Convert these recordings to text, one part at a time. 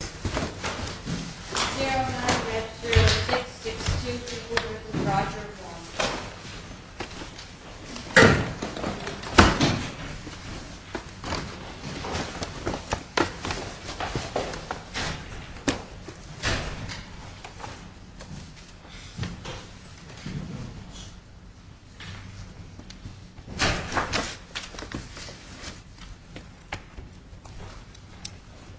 Daryl and I read 306, 6234, Roger and Warren.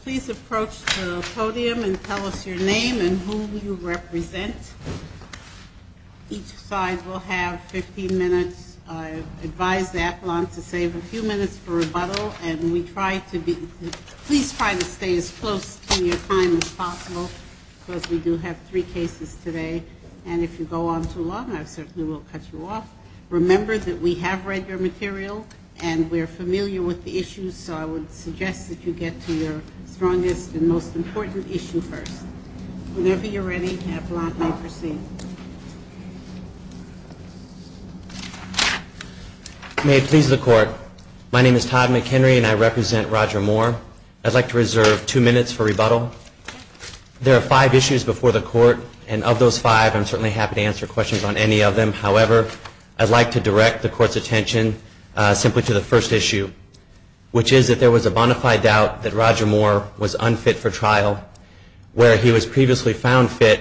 Please approach the podium and tell us your name and who you represent. Each side will have 15 minutes. I advise the appellant to save a few minutes for rebuttal. And we try to be – please try to stay as close to your time as possible because we do have three cases today. And if you go on too long, I certainly will cut you off. Remember that we have read your material and we're familiar with the issues, so I would suggest that you get to your strongest and most important issue first. Whenever you're ready, the appellant may proceed. May it please the Court, my name is Todd McHenry and I represent Roger Moore. I'd like to reserve two minutes for rebuttal. There are five issues before the Court, and of those five, I'm certainly happy to answer questions on any of them. However, I'd like to direct the Court's attention simply to the first issue, which is that there was a bona fide doubt that Roger Moore was unfit for trial, where he was previously found fit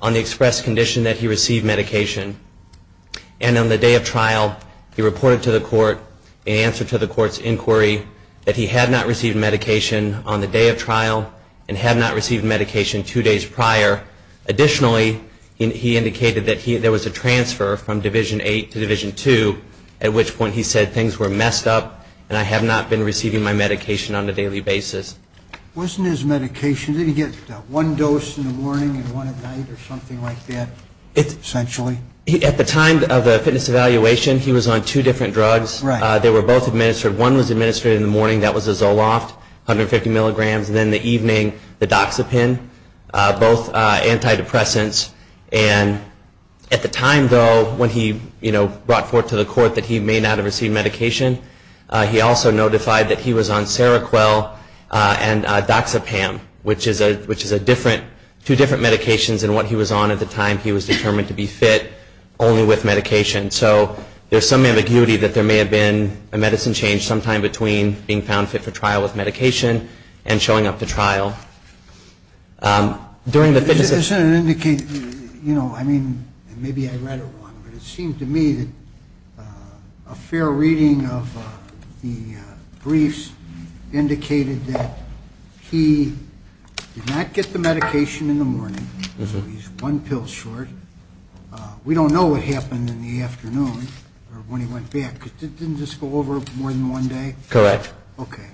on the express condition that he received medication. And on the day of trial, he reported to the Court in answer to the Court's inquiry that he had not received medication on the day of trial and had not received medication two days prior. Additionally, he indicated that there was a transfer from Division 8 to Division 2, at which point he said, things were messed up and I have not been receiving my medication on a daily basis. Wasn't his medication, didn't he get one dose in the morning and one at night or something like that, essentially? At the time of the fitness evaluation, he was on two different drugs. They were both administered. One was administered in the morning, that was a Zoloft, 150 milligrams, and then in the evening, the Doxepin, both antidepressants. And at the time, though, when he brought forth to the Court that he may not have received medication, he also notified that he was on Seroquel and Doxepam, which is two different medications. And what he was on at the time, he was determined to be fit only with medication. So there's some ambiguity that there may have been a medicine change sometime between being found fit for trial with medication and showing up to trial. During the fitness evaluation... I mean, maybe I read it wrong, but it seemed to me that a fair reading of the briefs indicated that he did not get the medication in the morning. So he's one pill short. We don't know what happened in the afternoon when he went back. Didn't this go over more than one day? Correct. Okay.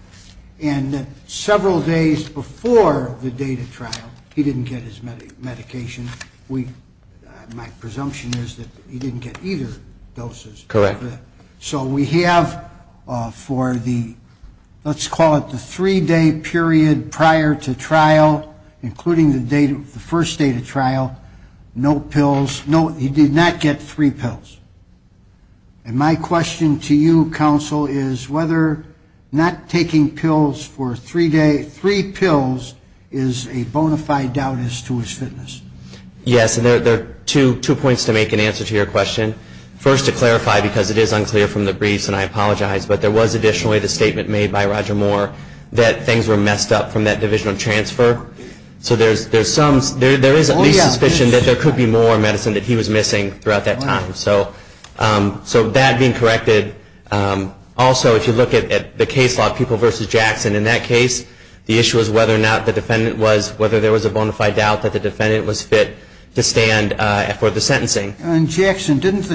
And several days before the date of trial, he didn't get his medication. My presumption is that he didn't get either doses. Correct. So we have for the, let's call it the three-day period prior to trial, including the first date of trial, no pills. He did not get three pills. And my question to you, counsel, is whether not taking pills for three pills is a bona fide doubt as to his fitness. Yes. And there are two points to make in answer to your question. First, to clarify, because it is unclear from the briefs, and I apologize, but there was additionally the statement made by Roger Moore that things were messed up from that divisional transfer. So there is at least suspicion that there could be more medicine that he was missing throughout that time. So that being corrected. Also, if you look at the case law, People v. Jackson, in that case, the issue was whether or not the defendant was, whether there was a bona fide doubt that the defendant was fit to stand for the sentencing. And, Jackson, didn't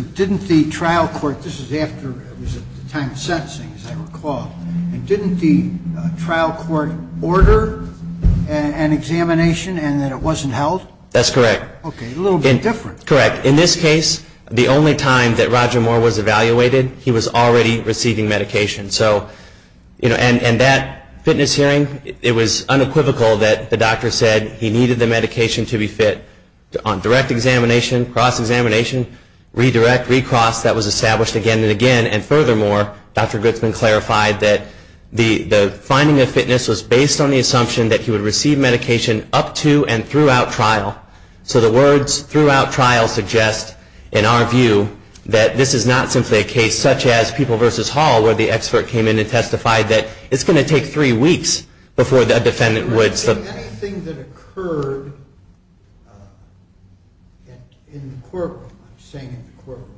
the trial court, this is after, it was at the time of sentencing, as I recall, and didn't the trial court order an examination and that it wasn't held? That's correct. Okay. A little bit different. Correct. In this case, the only time that Roger Moore was evaluated, he was already receiving medication. So, and that fitness hearing, it was unequivocal that the doctor said he needed the medication to be fit. On direct examination, cross examination, redirect, recross, that was established again and again. And furthermore, Dr. Goodsman clarified that the finding of fitness was based on the assumption that he would receive medication up to and throughout trial. So the words throughout trial suggest, in our view, that this is not simply a case such as People v. Hall, where the expert came in and testified that it's going to take three weeks before a defendant would. Anything that occurred in the courtroom, I'm saying in the courtroom,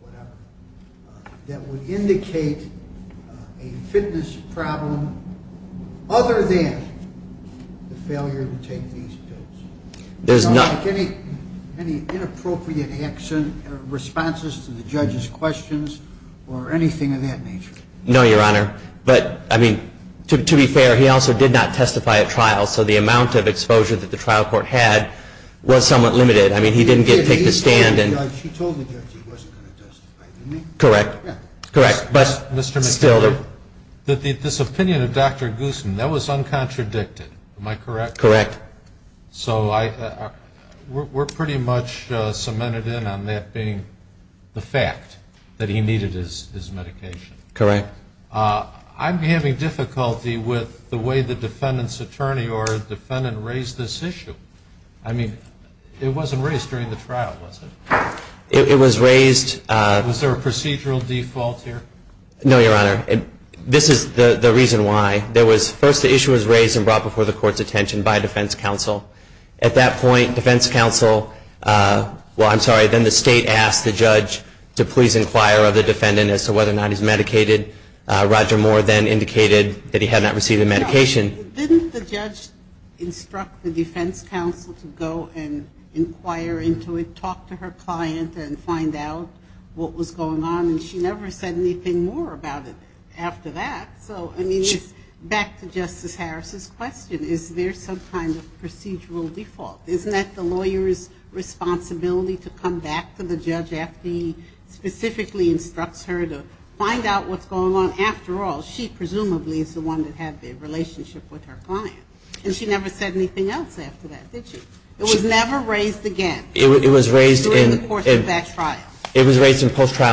whatever, that would indicate a fitness problem other than the failure to take these pills? There's not. Any inappropriate responses to the judge's questions or anything of that nature? No, Your Honor. But, I mean, to be fair, he also did not testify at trial. So the amount of exposure that the trial court had was somewhat limited. I mean, he didn't get to take the stand. She told the judge he wasn't going to testify, didn't she? Correct. But still, this opinion of Dr. Goodsman, that was uncontradicted, am I correct? Correct. So we're pretty much cemented in on that being the fact that he needed his medication. Correct. I'm having difficulty with the way the defendant's attorney or defendant raised this issue. I mean, it wasn't raised during the trial, was it? It was raised. Was there a procedural default here? No, Your Honor. This is the reason why. First, the issue was raised and brought before the court's attention by defense counsel. At that point, defense counsel, well, I'm sorry, then the state asked the judge to please inquire of the defendant as to whether or not he's medicated. Roger Moore then indicated that he had not received a medication. Didn't the judge instruct the defense counsel to go and inquire into it, talk to her client and find out what was going on? And she never said anything more about it after that. So, I mean, back to Justice Harris's question, is there some kind of procedural default? Isn't that the lawyer's responsibility to come back to the judge after he specifically instructs her to find out what's going on? I mean, after all, she presumably is the one that had the relationship with her client. And she never said anything else after that, did she? It was never raised again. It was raised in post-trial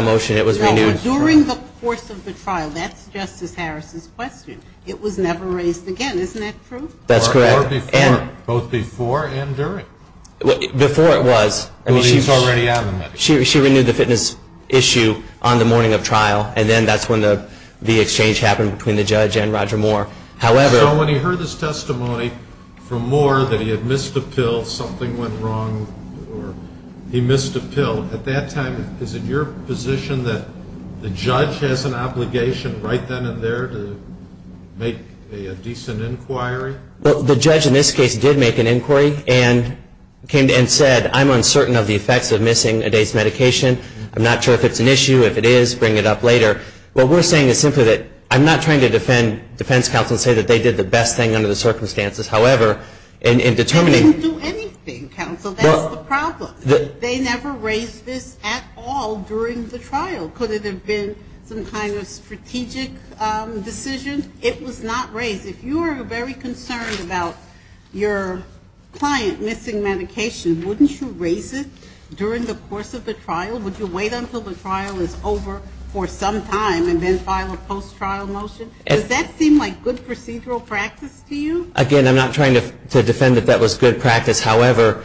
motion. It was renewed. During the course of the trial, that's Justice Harris's question. It was never raised again. Isn't that true? That's correct. Both before and during. Before it was. She renewed the fitness issue on the morning of trial, and then that's when the exchange happened between the judge and Roger Moore. So when he heard this testimony from Moore that he had missed a pill, something went wrong, or he missed a pill, at that time is it your position that the judge has an obligation right then and there to make a decent inquiry? The judge in this case did make an inquiry and said, I'm uncertain of the effects of missing a day's medication. I'm not sure if it's an issue. If it is, bring it up later. What we're saying is simply that I'm not trying to defend defense counsel and say that they did the best thing under the circumstances. However, in determining ---- They didn't do anything, counsel. That's the problem. They never raised this at all during the trial. Could it have been some kind of strategic decision? It was not raised. If you are very concerned about your client missing medication, wouldn't you raise it during the course of the trial? Would you wait until the trial is over for some time and then file a post-trial motion? Does that seem like good procedural practice to you? Again, I'm not trying to defend that that was good practice. However,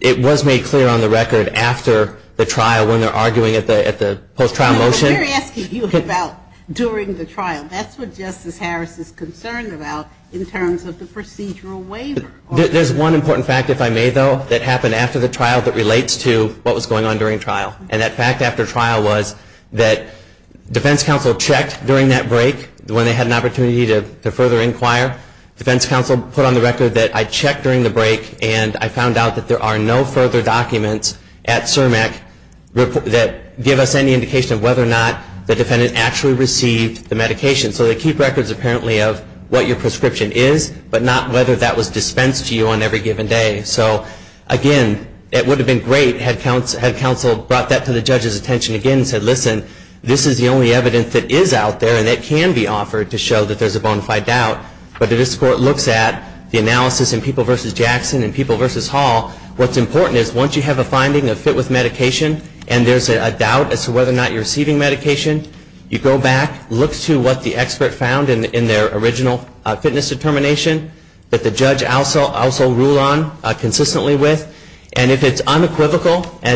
it was made clear on the record after the trial when they're arguing at the post-trial motion. We're asking you about during the trial. That's what Justice Harris is concerned about in terms of the procedural waiver. There's one important fact, if I may, though, that happened after the trial that relates to what was going on during trial. And that fact after trial was that defense counsel checked during that break when they had an opportunity to further inquire. Defense counsel put on the record that I checked during the break and I found out that there are no further documents at CERMEC that give us any indication of whether or not the defendant actually received the medication. So they keep records, apparently, of what your prescription is but not whether that was dispensed to you on every given day. So, again, it would have been great had counsel brought that to the judge's attention again and said, listen, this is the only evidence that is out there and that can be offered to show that there's a bona fide doubt. But if this court looks at the analysis in People v. Jackson and People v. Hall, what's important is once you have a finding that fit with medication and there's a doubt as to whether or not you're receiving medication, you go back, look to what the expert found in their original fitness determination that the judge also ruled on consistently with. And if it's unequivocal or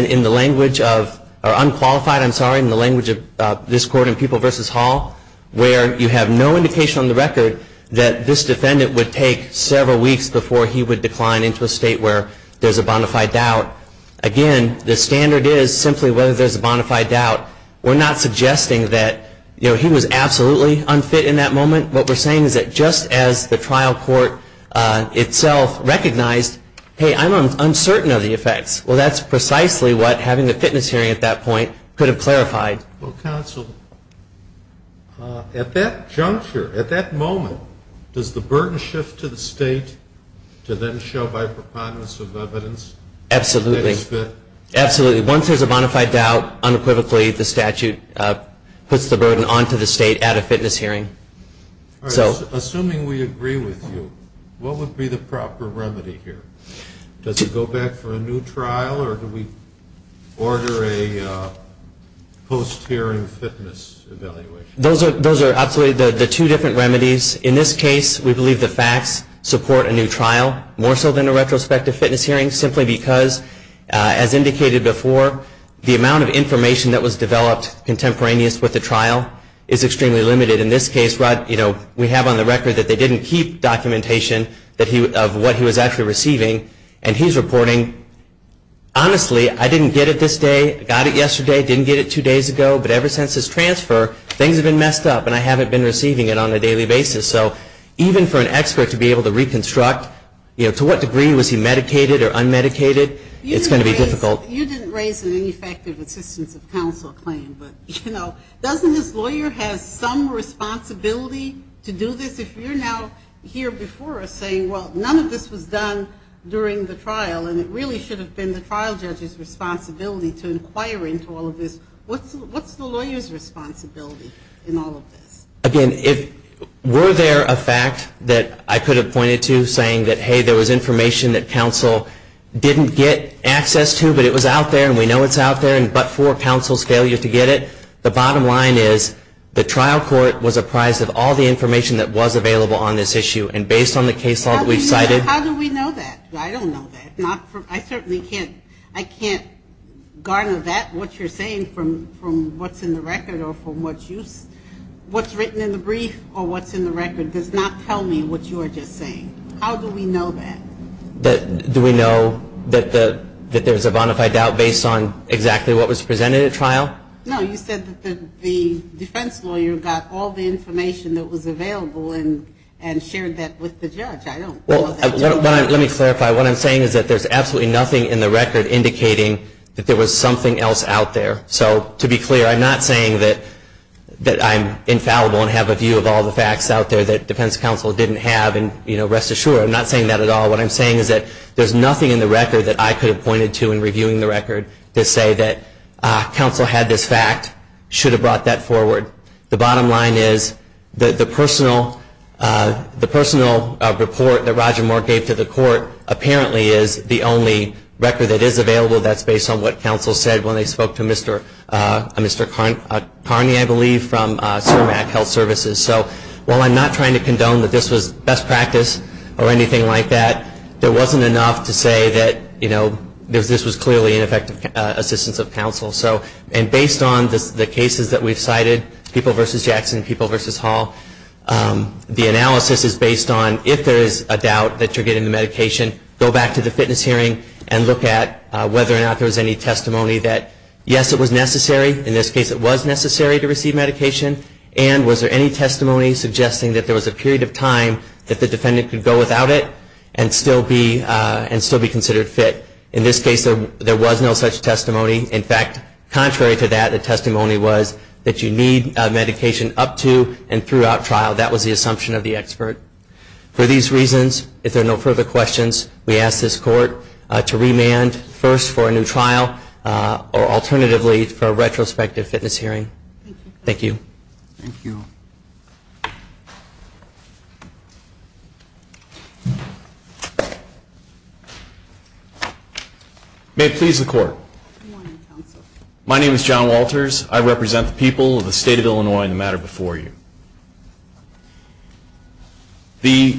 unqualified in the language of this court in People v. Hall, where you have no indication on the record that this defendant would take several weeks before he would decline into a state where there's a bona fide doubt, again, the standard is simply whether there's a bona fide doubt. We're not suggesting that he was absolutely unfit in that moment. What we're saying is that just as the trial court itself recognized, hey, I'm uncertain of the effects, well, that's precisely what having a fitness hearing at that point could have clarified. Well, counsel, at that juncture, at that moment, does the burden shift to the state to then show by preponderance of evidence that he's fit? Absolutely. Absolutely. Once there's a bona fide doubt, unequivocally the statute puts the burden onto the state at a fitness hearing. Assuming we agree with you, what would be the proper remedy here? Does he go back for a new trial or do we order a post-hearing fitness evaluation? Those are absolutely the two different remedies. In this case, we believe the facts support a new trial more so than a retrospective fitness hearing simply because, as indicated before, the amount of information that was developed contemporaneous with the trial is extremely limited. In this case, we have on the record that they didn't keep documentation of what he was actually receiving, and he's reporting, honestly, I didn't get it this day, got it yesterday, didn't get it two days ago, but ever since his transfer, things have been messed up and I haven't been receiving it on a daily basis. So even for an expert to be able to reconstruct, you know, to what degree was he medicated or unmedicated, it's going to be difficult. You didn't raise an ineffective assistance of counsel claim, but, you know, doesn't this lawyer have some responsibility to do this? If you're now here before us saying, well, none of this was done during the trial and it really should have been the trial judge's responsibility to inquire into all of this, what's the lawyer's responsibility in all of this? Again, were there a fact that I could have pointed to saying that, hey, there was information that counsel didn't get access to but it was out there and we know it's out there but for counsel's failure to get it? The bottom line is the trial court was apprised of all the information that was available on this issue and based on the case law that we've cited. How do we know that? I don't know that. I certainly can't garner that, what you're saying from what's in the record or from what's written in the brief or what's in the record does not tell me what you are just saying. How do we know that? Do we know that there's a bonafide doubt based on exactly what was presented at trial? No, you said that the defense lawyer got all the information that was available and shared that with the judge. Let me clarify. What I'm saying is that there's absolutely nothing in the record indicating that there was something else out there. So to be clear, I'm not saying that I'm infallible and have a view of all the facts out there that defense counsel didn't have and rest assured, I'm not saying that at all. What I'm saying is that there's nothing in the record that I could have pointed to in reviewing the record to say that counsel had this fact, should have brought that forward. The bottom line is that the personal report that Roger Moore gave to the court apparently is the only record that is available that's based on what counsel said when they spoke to Mr. Carney, I believe, from Ceramic Health Services. So while I'm not trying to condone that this was best practice or anything like that, there wasn't enough to say that this was clearly ineffective assistance of counsel. And based on the cases that we've cited, people versus Jackson, people versus Hall, the analysis is based on if there is a doubt that you're getting the medication, go back to the fitness hearing and look at whether or not there was any testimony that yes, it was necessary. In this case, it was necessary to receive medication. And was there any testimony suggesting that there was a period of time that the defendant could go without it and still be considered fit? In this case, there was no such testimony. In fact, contrary to that, the testimony was that you need medication up to and throughout trial. That was the assumption of the expert. For these reasons, if there are no further questions, we ask this court to remand first for a new trial or alternatively for a retrospective fitness hearing. Thank you. Thank you. May it please the court. My name is John Walters. I represent the people of the state of Illinois in the matter before you.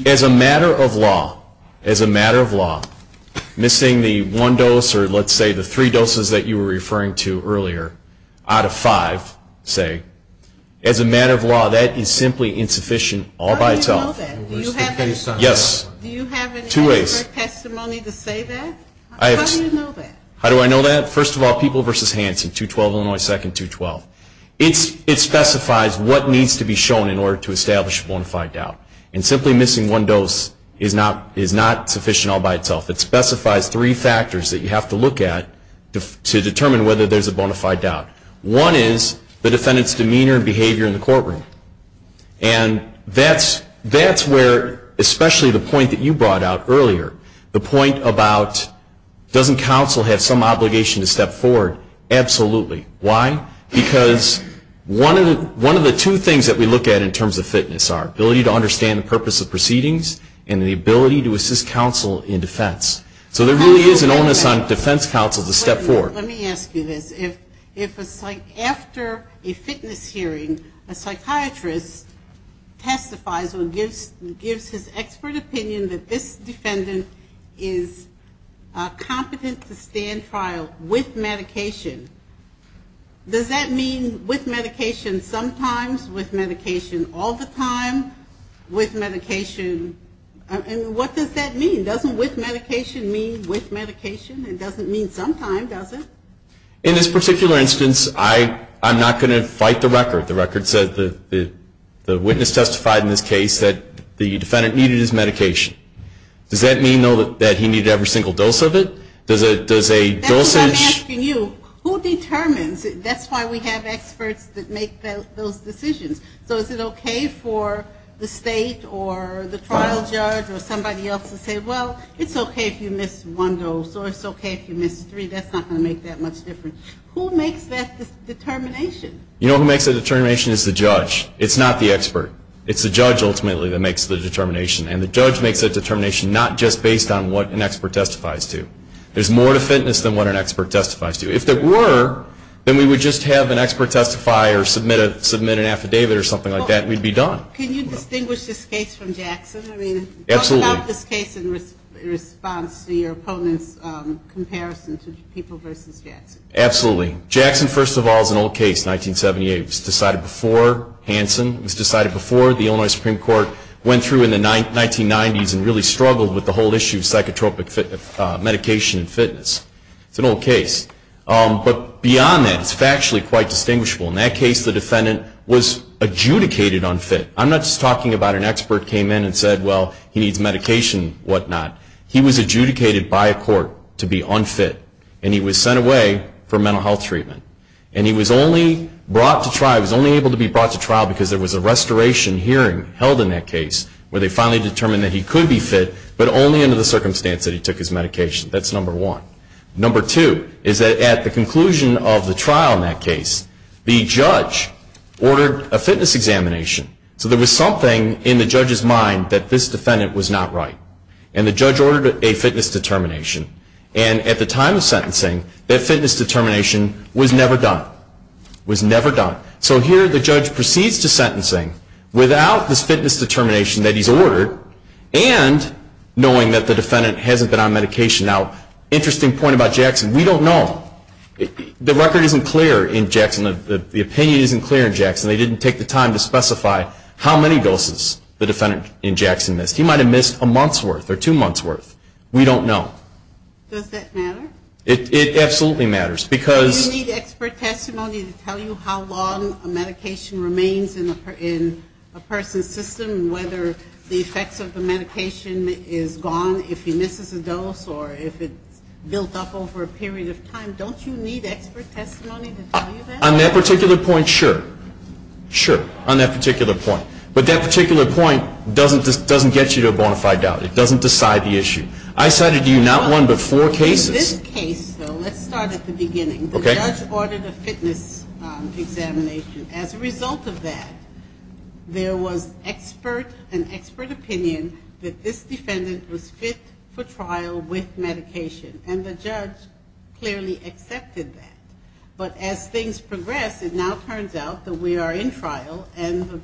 As a matter of law, as a matter of law, missing the one dose or let's say the three doses that you were referring to earlier out of five, say, as a matter of law, that is simply insufficient all by itself. How do you know that? Do you have an expert testimony to say that? How do you know that? How do I know that? First of all, People v. Hanson, 212 Illinois 2nd, 212. It specifies what needs to be shown in order to establish a bona fide doubt. And simply missing one dose is not sufficient all by itself. It specifies three factors that you have to look at to determine whether there's a bona fide doubt. One is the defendant's demeanor and behavior in the courtroom. And that's where, especially the point that you brought out earlier, the point about doesn't counsel have some obligation to step forward? Absolutely. Why? Because one of the two things that we look at in terms of fitness are ability to understand the purpose of proceedings and the ability to assist counsel in defense. So there really is an onus on defense counsel to step forward. Let me ask you this. If after a fitness hearing a psychiatrist testifies or gives his expert opinion that this defendant is competent to stand trial with medication, does that mean with medication sometimes, with medication all the time, with medication, and what does that mean? Doesn't with medication mean with medication? It doesn't mean sometimes, does it? In this particular instance, I'm not going to fight the record. The record says the witness testified in this case that the defendant needed his medication. Does that mean, though, that he needed every single dose of it? That's what I'm asking you. Who determines? That's why we have experts that make those decisions. So is it okay for the state or the trial judge or somebody else to say, well, it's okay if you miss one dose or it's okay if you miss three. That's not going to make that much difference. Who makes that determination? You know who makes that determination is the judge. It's not the expert. It's the judge ultimately that makes the determination, and the judge makes that determination not just based on what an expert testifies to. There's more to fitness than what an expert testifies to. If there were, then we would just have an expert testify or submit an affidavit or something like that, and we'd be done. Can you distinguish this case from Jackson? I mean, talk about this case in response to your opponent's comparison to People v. Jackson. Absolutely. Jackson, first of all, is an old case, 1978. It was decided before Hanson. It was decided before the Illinois Supreme Court went through in the 1990s and really struggled with the whole issue of psychotropic medication and fitness. It's an old case. But beyond that, it's factually quite distinguishable. In that case, the defendant was adjudicated unfit. I'm not just talking about an expert came in and said, well, he needs medication and whatnot. He was adjudicated by a court to be unfit, and he was sent away for mental health treatment. And he was only brought to trial, he was only able to be brought to trial because there was a restoration hearing held in that case where they finally determined that he could be fit, but only under the circumstance that he took his medication. That's number one. Number two is that at the conclusion of the trial in that case, the judge ordered a fitness examination. So there was something in the judge's mind that this defendant was not right. And the judge ordered a fitness determination. And at the time of sentencing, that fitness determination was never done. It was never done. So here the judge proceeds to sentencing without this fitness determination that he's ordered and knowing that the defendant hasn't been on medication. Now, interesting point about Jackson. We don't know. The record isn't clear in Jackson. The opinion isn't clear in Jackson. They didn't take the time to specify how many doses the defendant in Jackson missed. He might have missed a month's worth or two months' worth. We don't know. Does that matter? It absolutely matters. Do you need expert testimony to tell you how long a medication remains in a person's system and whether the effects of the medication is gone if he misses a dose or if it's built up over a period of time? Don't you need expert testimony to tell you that? On that particular point, sure. Sure, on that particular point. But that particular point doesn't get you to a bona fide doubt. It doesn't decide the issue. I cited you not one but four cases. In this case, though, let's start at the beginning. Okay. The judge ordered a fitness examination. As a result of that, there was an expert opinion that this defendant was fit for trial with medication. And the judge clearly accepted that. But as things progressed, it now turns out that we are in trial and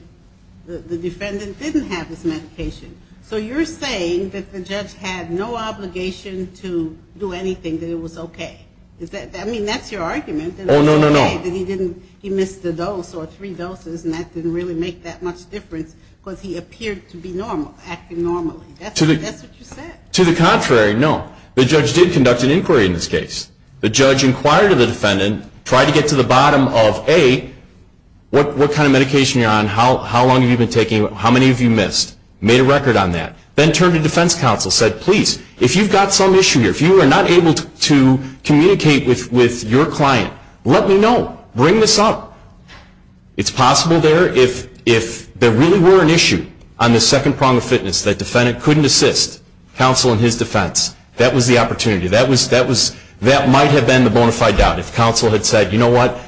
the defendant didn't have his medication. So you're saying that the judge had no obligation to do anything, that it was okay. I mean, that's your argument. Oh, no, no, no. That he missed a dose or three doses and that didn't really make that much difference because he appeared to be normal, acting normally. That's what you said. To the contrary, no. The judge did conduct an inquiry in this case. The judge inquired of the defendant, tried to get to the bottom of, A, what kind of medication you're on, how long have you been taking it, how many have you missed. Made a record on that. Then turned to defense counsel, said, please, if you've got some issue here, if you are not able to communicate with your client, let me know. Bring this up. It's possible there, if there really were an issue on the second prong of fitness, that defendant couldn't assist counsel in his defense. That was the opportunity. That might have been the bona fide doubt. If counsel had said, you know what,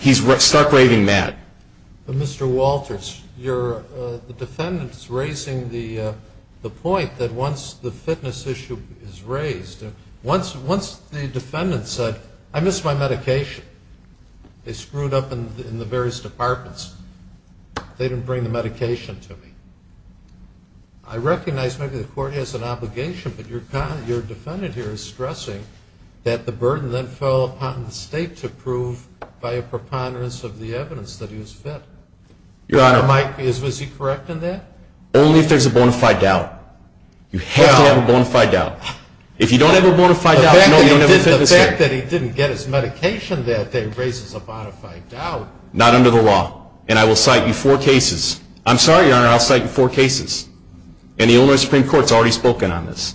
he's stark raving mad. Mr. Walters, the defendant is raising the point that once the fitness issue is raised, once the defendant said, I missed my medication, they screwed up in the various departments, they didn't bring the medication to me. I recognize maybe the court has an obligation, but your defendant here is stressing that the burden then fell upon the state to prove, by a preponderance of the evidence, that he was fit. Your Honor. Was he correct in that? Only if there's a bona fide doubt. You have to have a bona fide doubt. If you don't have a bona fide doubt, you don't have a fitness issue. The fact that he didn't get his medication that day raises a bona fide doubt. Not under the law. And I will cite you four cases. I'm sorry, Your Honor, I'll cite you four cases. And the Illinois Supreme Court has already spoken on this.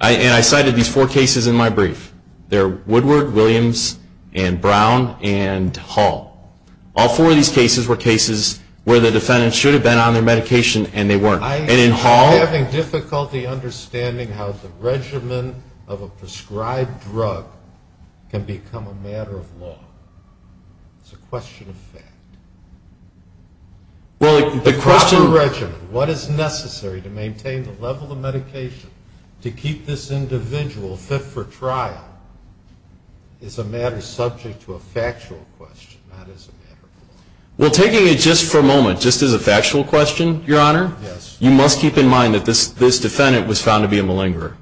And I cited these four cases in my brief. They're Woodward, Williams, and Brown, and Hall. All four of these cases were cases where the defendant should have been on their medication and they weren't. And in Hall. I am having difficulty understanding how the regimen of a prescribed drug can become a matter of law. It's a question of fact. The proper regimen, what is necessary to maintain the level of medication to keep this individual fit for trial is a matter subject to a factual question, not as a matter of law. Well, taking it just for a moment, just as a factual question, Your Honor, you must keep in mind that this defendant was found to be a malingerer.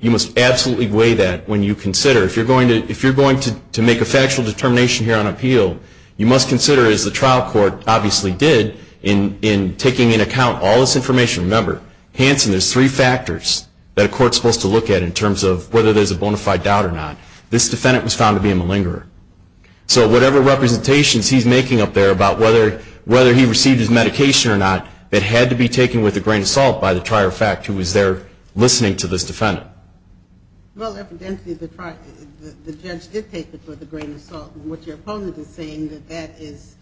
You must absolutely weigh that when you consider. If you're going to make a factual determination here on appeal, you must consider, as the trial court obviously did, in taking into account all this information. Remember, Hanson, there's three factors that a court's supposed to look at in terms of whether there's a bona fide doubt or not. This defendant was found to be a malingerer. So whatever representations he's making up there about whether he received his medication or not, it had to be taken with a grain of salt by the trier of fact who was there listening to this defendant. Well, evidently the judge did take it with a grain of salt. What your opponent is saying is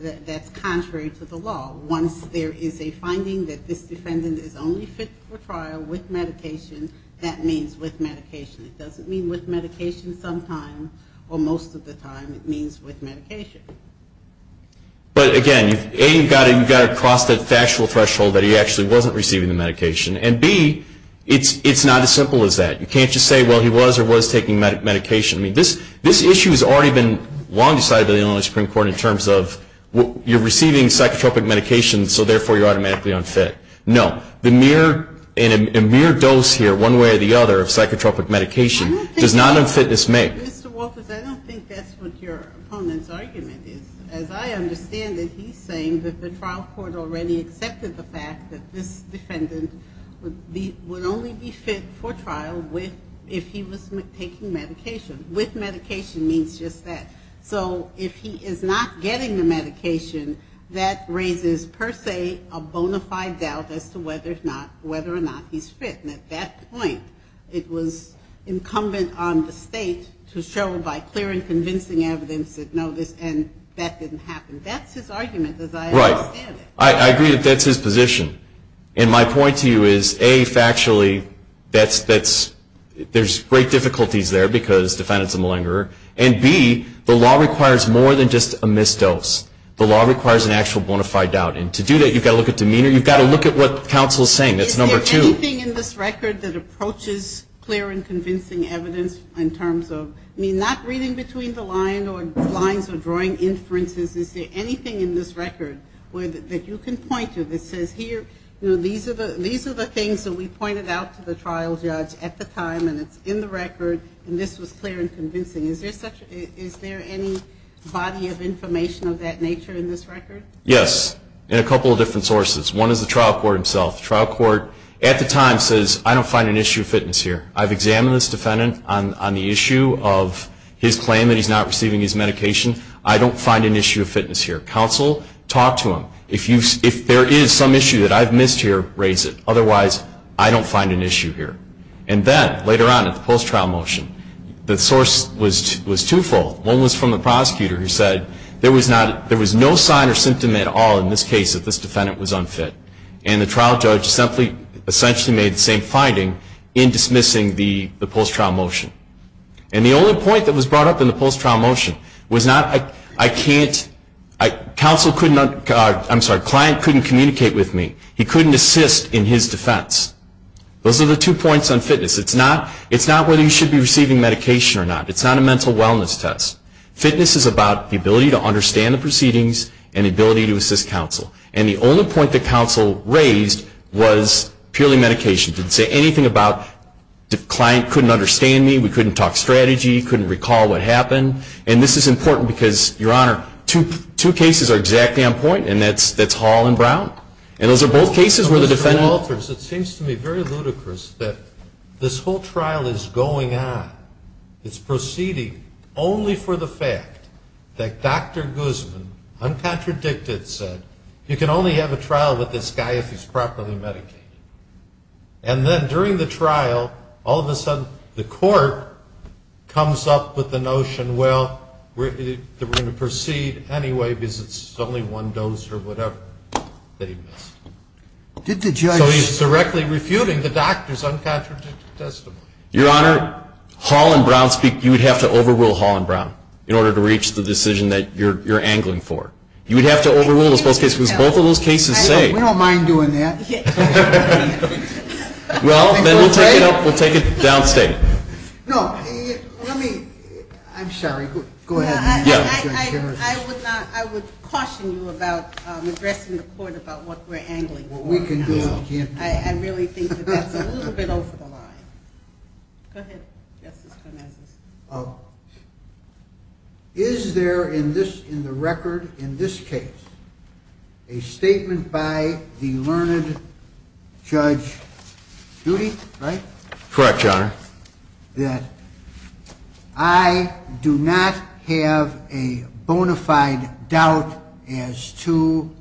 that that's contrary to the law. Once there is a finding that this defendant is only fit for trial with medication, that means with medication. It doesn't mean with medication sometime, or most of the time it means with medication. But, again, A, you've got to cross that factual threshold that he actually wasn't receiving the medication, and B, it's not as simple as that. You can't just say, well, he was or was taking medication. I mean, this issue has already been long decided by the Illinois Supreme Court in terms of you're receiving psychotropic medication, so therefore you're automatically unfit. No. The mere dose here, one way or the other, of psychotropic medication does not unfit this man. Mr. Walters, I don't think that's what your opponent's argument is. As I understand it, he's saying that the trial court already accepted the fact that this defendant would only be fit for trial if he was taking medication. With medication means just that. So if he is not getting the medication, that raises, per se, a bona fide doubt as to whether or not he's fit. And at that point, it was incumbent on the state to show by clear and convincing evidence that no, that didn't happen. That's his argument, as I understand it. Right. I agree that that's his position. And my point to you is, A, factually, there's great difficulties there because the defendant's a malingerer, and, B, the law requires more than just a missed dose. The law requires an actual bona fide doubt. And to do that, you've got to look at demeanor. You've got to look at what counsel is saying. That's number two. Is there anything in this record that approaches clear and convincing evidence in terms of, I mean, not reading between the lines or drawing inferences. Is there anything in this record that you can point to that says, here, these are the things that we pointed out to the trial judge at the time, and it's in the record, and this was clear and convincing. Is there any body of information of that nature in this record? Yes, in a couple of different sources. One is the trial court himself. The trial court at the time says, I don't find an issue of fitness here. I've examined this defendant on the issue of his claim that he's not receiving his medication. I don't find an issue of fitness here. Counsel, talk to him. If there is some issue that I've missed here, raise it. Otherwise, I don't find an issue here. And then, later on in the post-trial motion, the source was twofold. One was from the prosecutor who said there was no sign or symptom at all in this case that this defendant was unfit. And the trial judge essentially made the same finding in dismissing the post-trial motion. And the only point that was brought up in the post-trial motion was not, I can't, counsel couldn't, I'm sorry, client couldn't communicate with me. He couldn't assist in his defense. Those are the two points on fitness. It's not whether you should be receiving medication or not. It's not a mental wellness test. Fitness is about the ability to understand the proceedings and the ability to assist counsel. And the only point that counsel raised was purely medication. It didn't say anything about the client couldn't understand me, we couldn't talk strategy, couldn't recall what happened. And this is important because, Your Honor, two cases are exactly on point, and that's Hall and Brown. And those are both cases where the defendant. Mr. Walters, it seems to me very ludicrous that this whole trial is going on. It's proceeding only for the fact that Dr. Guzman, uncontradicted, said, you can only have a trial with this guy if he's properly medicated. And then during the trial, all of a sudden the court comes up with the notion, well, we're going to proceed anyway because it's only one dose or whatever that he missed. So he's directly refuting the doctor's uncontradicted testimony. Your Honor, Hall and Brown speak. You would have to overrule Hall and Brown in order to reach the decision that you're angling for. You would have to overrule those both cases because both of those cases say. We don't mind doing that. Well, then we'll take it downstate. No, let me. I'm sorry. Go ahead. I would caution you about addressing the court about what we're angling for. What we can do and can't do. I really think that that's a little bit over the line. Go ahead, Justice Gomez. Is there in the record in this case a statement by the learned Judge Doody, right? Correct, Your Honor. That I do not have a bona fide doubt as to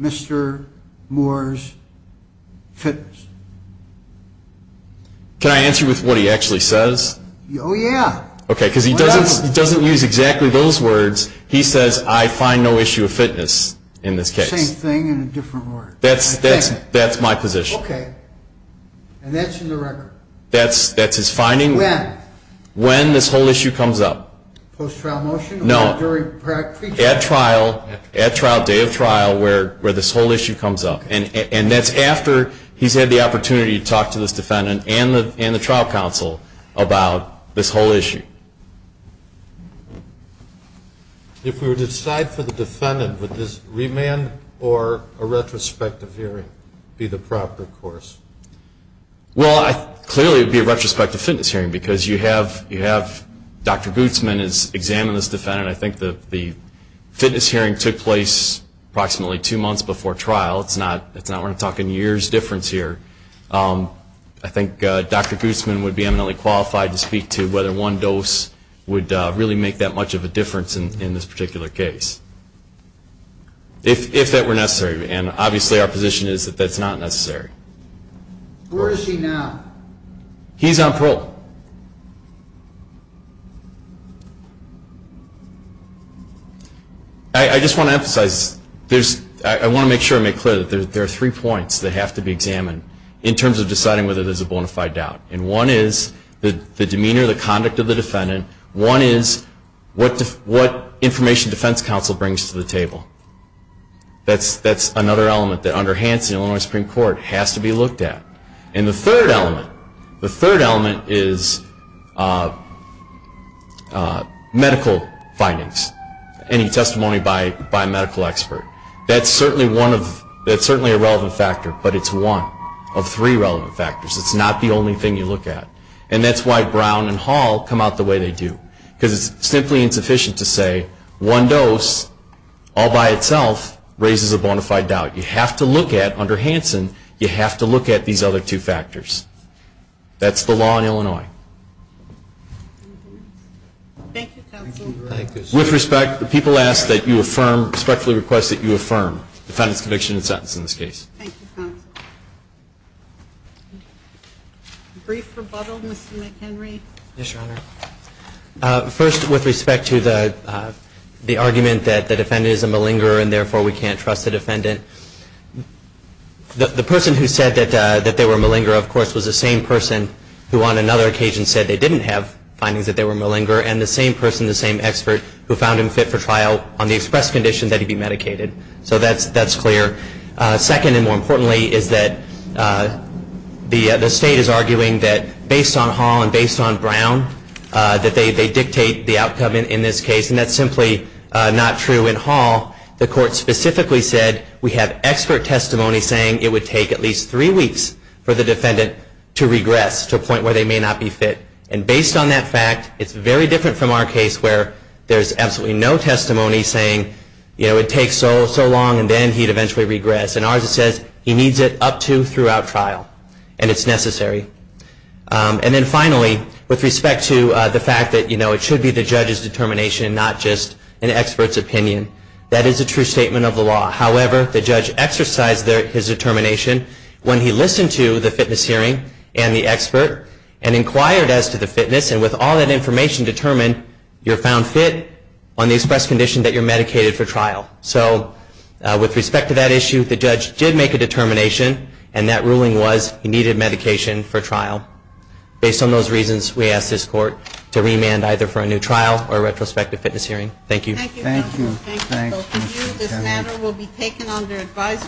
Mr. Moore's fitness. Can I answer with what he actually says? Oh, yeah. Okay, because he doesn't use exactly those words. He says I find no issue of fitness in this case. Same thing in a different word. That's my position. Okay, and that's in the record. That's his finding. When? When this whole issue comes up. Post-trial motion? No. Or during pre-trial? At trial, day of trial where this whole issue comes up. And that's after he's had the opportunity to talk to this defendant and the trial counsel about this whole issue. If we were to decide for the defendant, would this remand or a retrospective hearing be the proper course? Well, clearly it would be a retrospective fitness hearing because you have Dr. Guzman examine this defendant. I think the fitness hearing took place approximately two months before trial. It's not we're talking years difference here. I think Dr. Guzman would be eminently qualified to speak to whether one dose would really make that much of a difference in this particular case, if that were necessary. And obviously our position is that that's not necessary. Where is he now? He's on parole. I just want to emphasize, I want to make sure I make clear that there are three points that have to be examined in terms of deciding whether there's a bona fide doubt. And one is the demeanor, the conduct of the defendant. One is what information defense counsel brings to the table. That's another element that under Hanson, Illinois Supreme Court, has to be looked at. And the third element, the third element is medical findings. Any testimony by a medical expert. That's certainly a relevant factor, but it's one of three relevant factors. It's not the only thing you look at. And that's why Brown and Hall come out the way they do. Because it's simply insufficient to say one dose all by itself raises a bona fide doubt. You have to look at, under Hanson, you have to look at these other two factors. That's the law in Illinois. With respect, the people ask that you affirm, respectfully request that you affirm the defendant's conviction and sentence in this case. Thank you, counsel. Brief rebuttal, Mr. McHenry. Yes, Your Honor. First, with respect to the argument that the defendant is a malingerer and therefore we can't trust the defendant. The person who said that they were a malingerer, of course, was the same person who on another occasion said they didn't have findings that they were a malingerer and the same person, the same expert, who found him fit for trial on the express condition that he be medicated. So that's clear. Second, and more importantly, is that the state is arguing that based on Hall and based on Brown, that they dictate the outcome in this case. And that's simply not true in Hall. The court specifically said we have expert testimony saying it would take at least three weeks for the defendant to regress to a point where they may not be fit. And based on that fact, it's very different from our case where there's absolutely no testimony saying it takes so long and then he'd eventually regress. In ours it says he needs it up to throughout trial and it's necessary. And then finally, with respect to the fact that it should be the judge's determination and not just an expert's opinion, that is a true statement of the law. However, the judge exercised his determination when he listened to the fitness and with all that information determined, you're found fit on the express condition that you're medicated for trial. So with respect to that issue, the judge did make a determination and that ruling was he needed medication for trial. Based on those reasons, we ask this court to remand either for a new trial or a retrospective fitness hearing. Thank you. Thank you. Thank you. Thank you. Thank you. Thank you. Thank you. Thank you. Thank you. Thank you.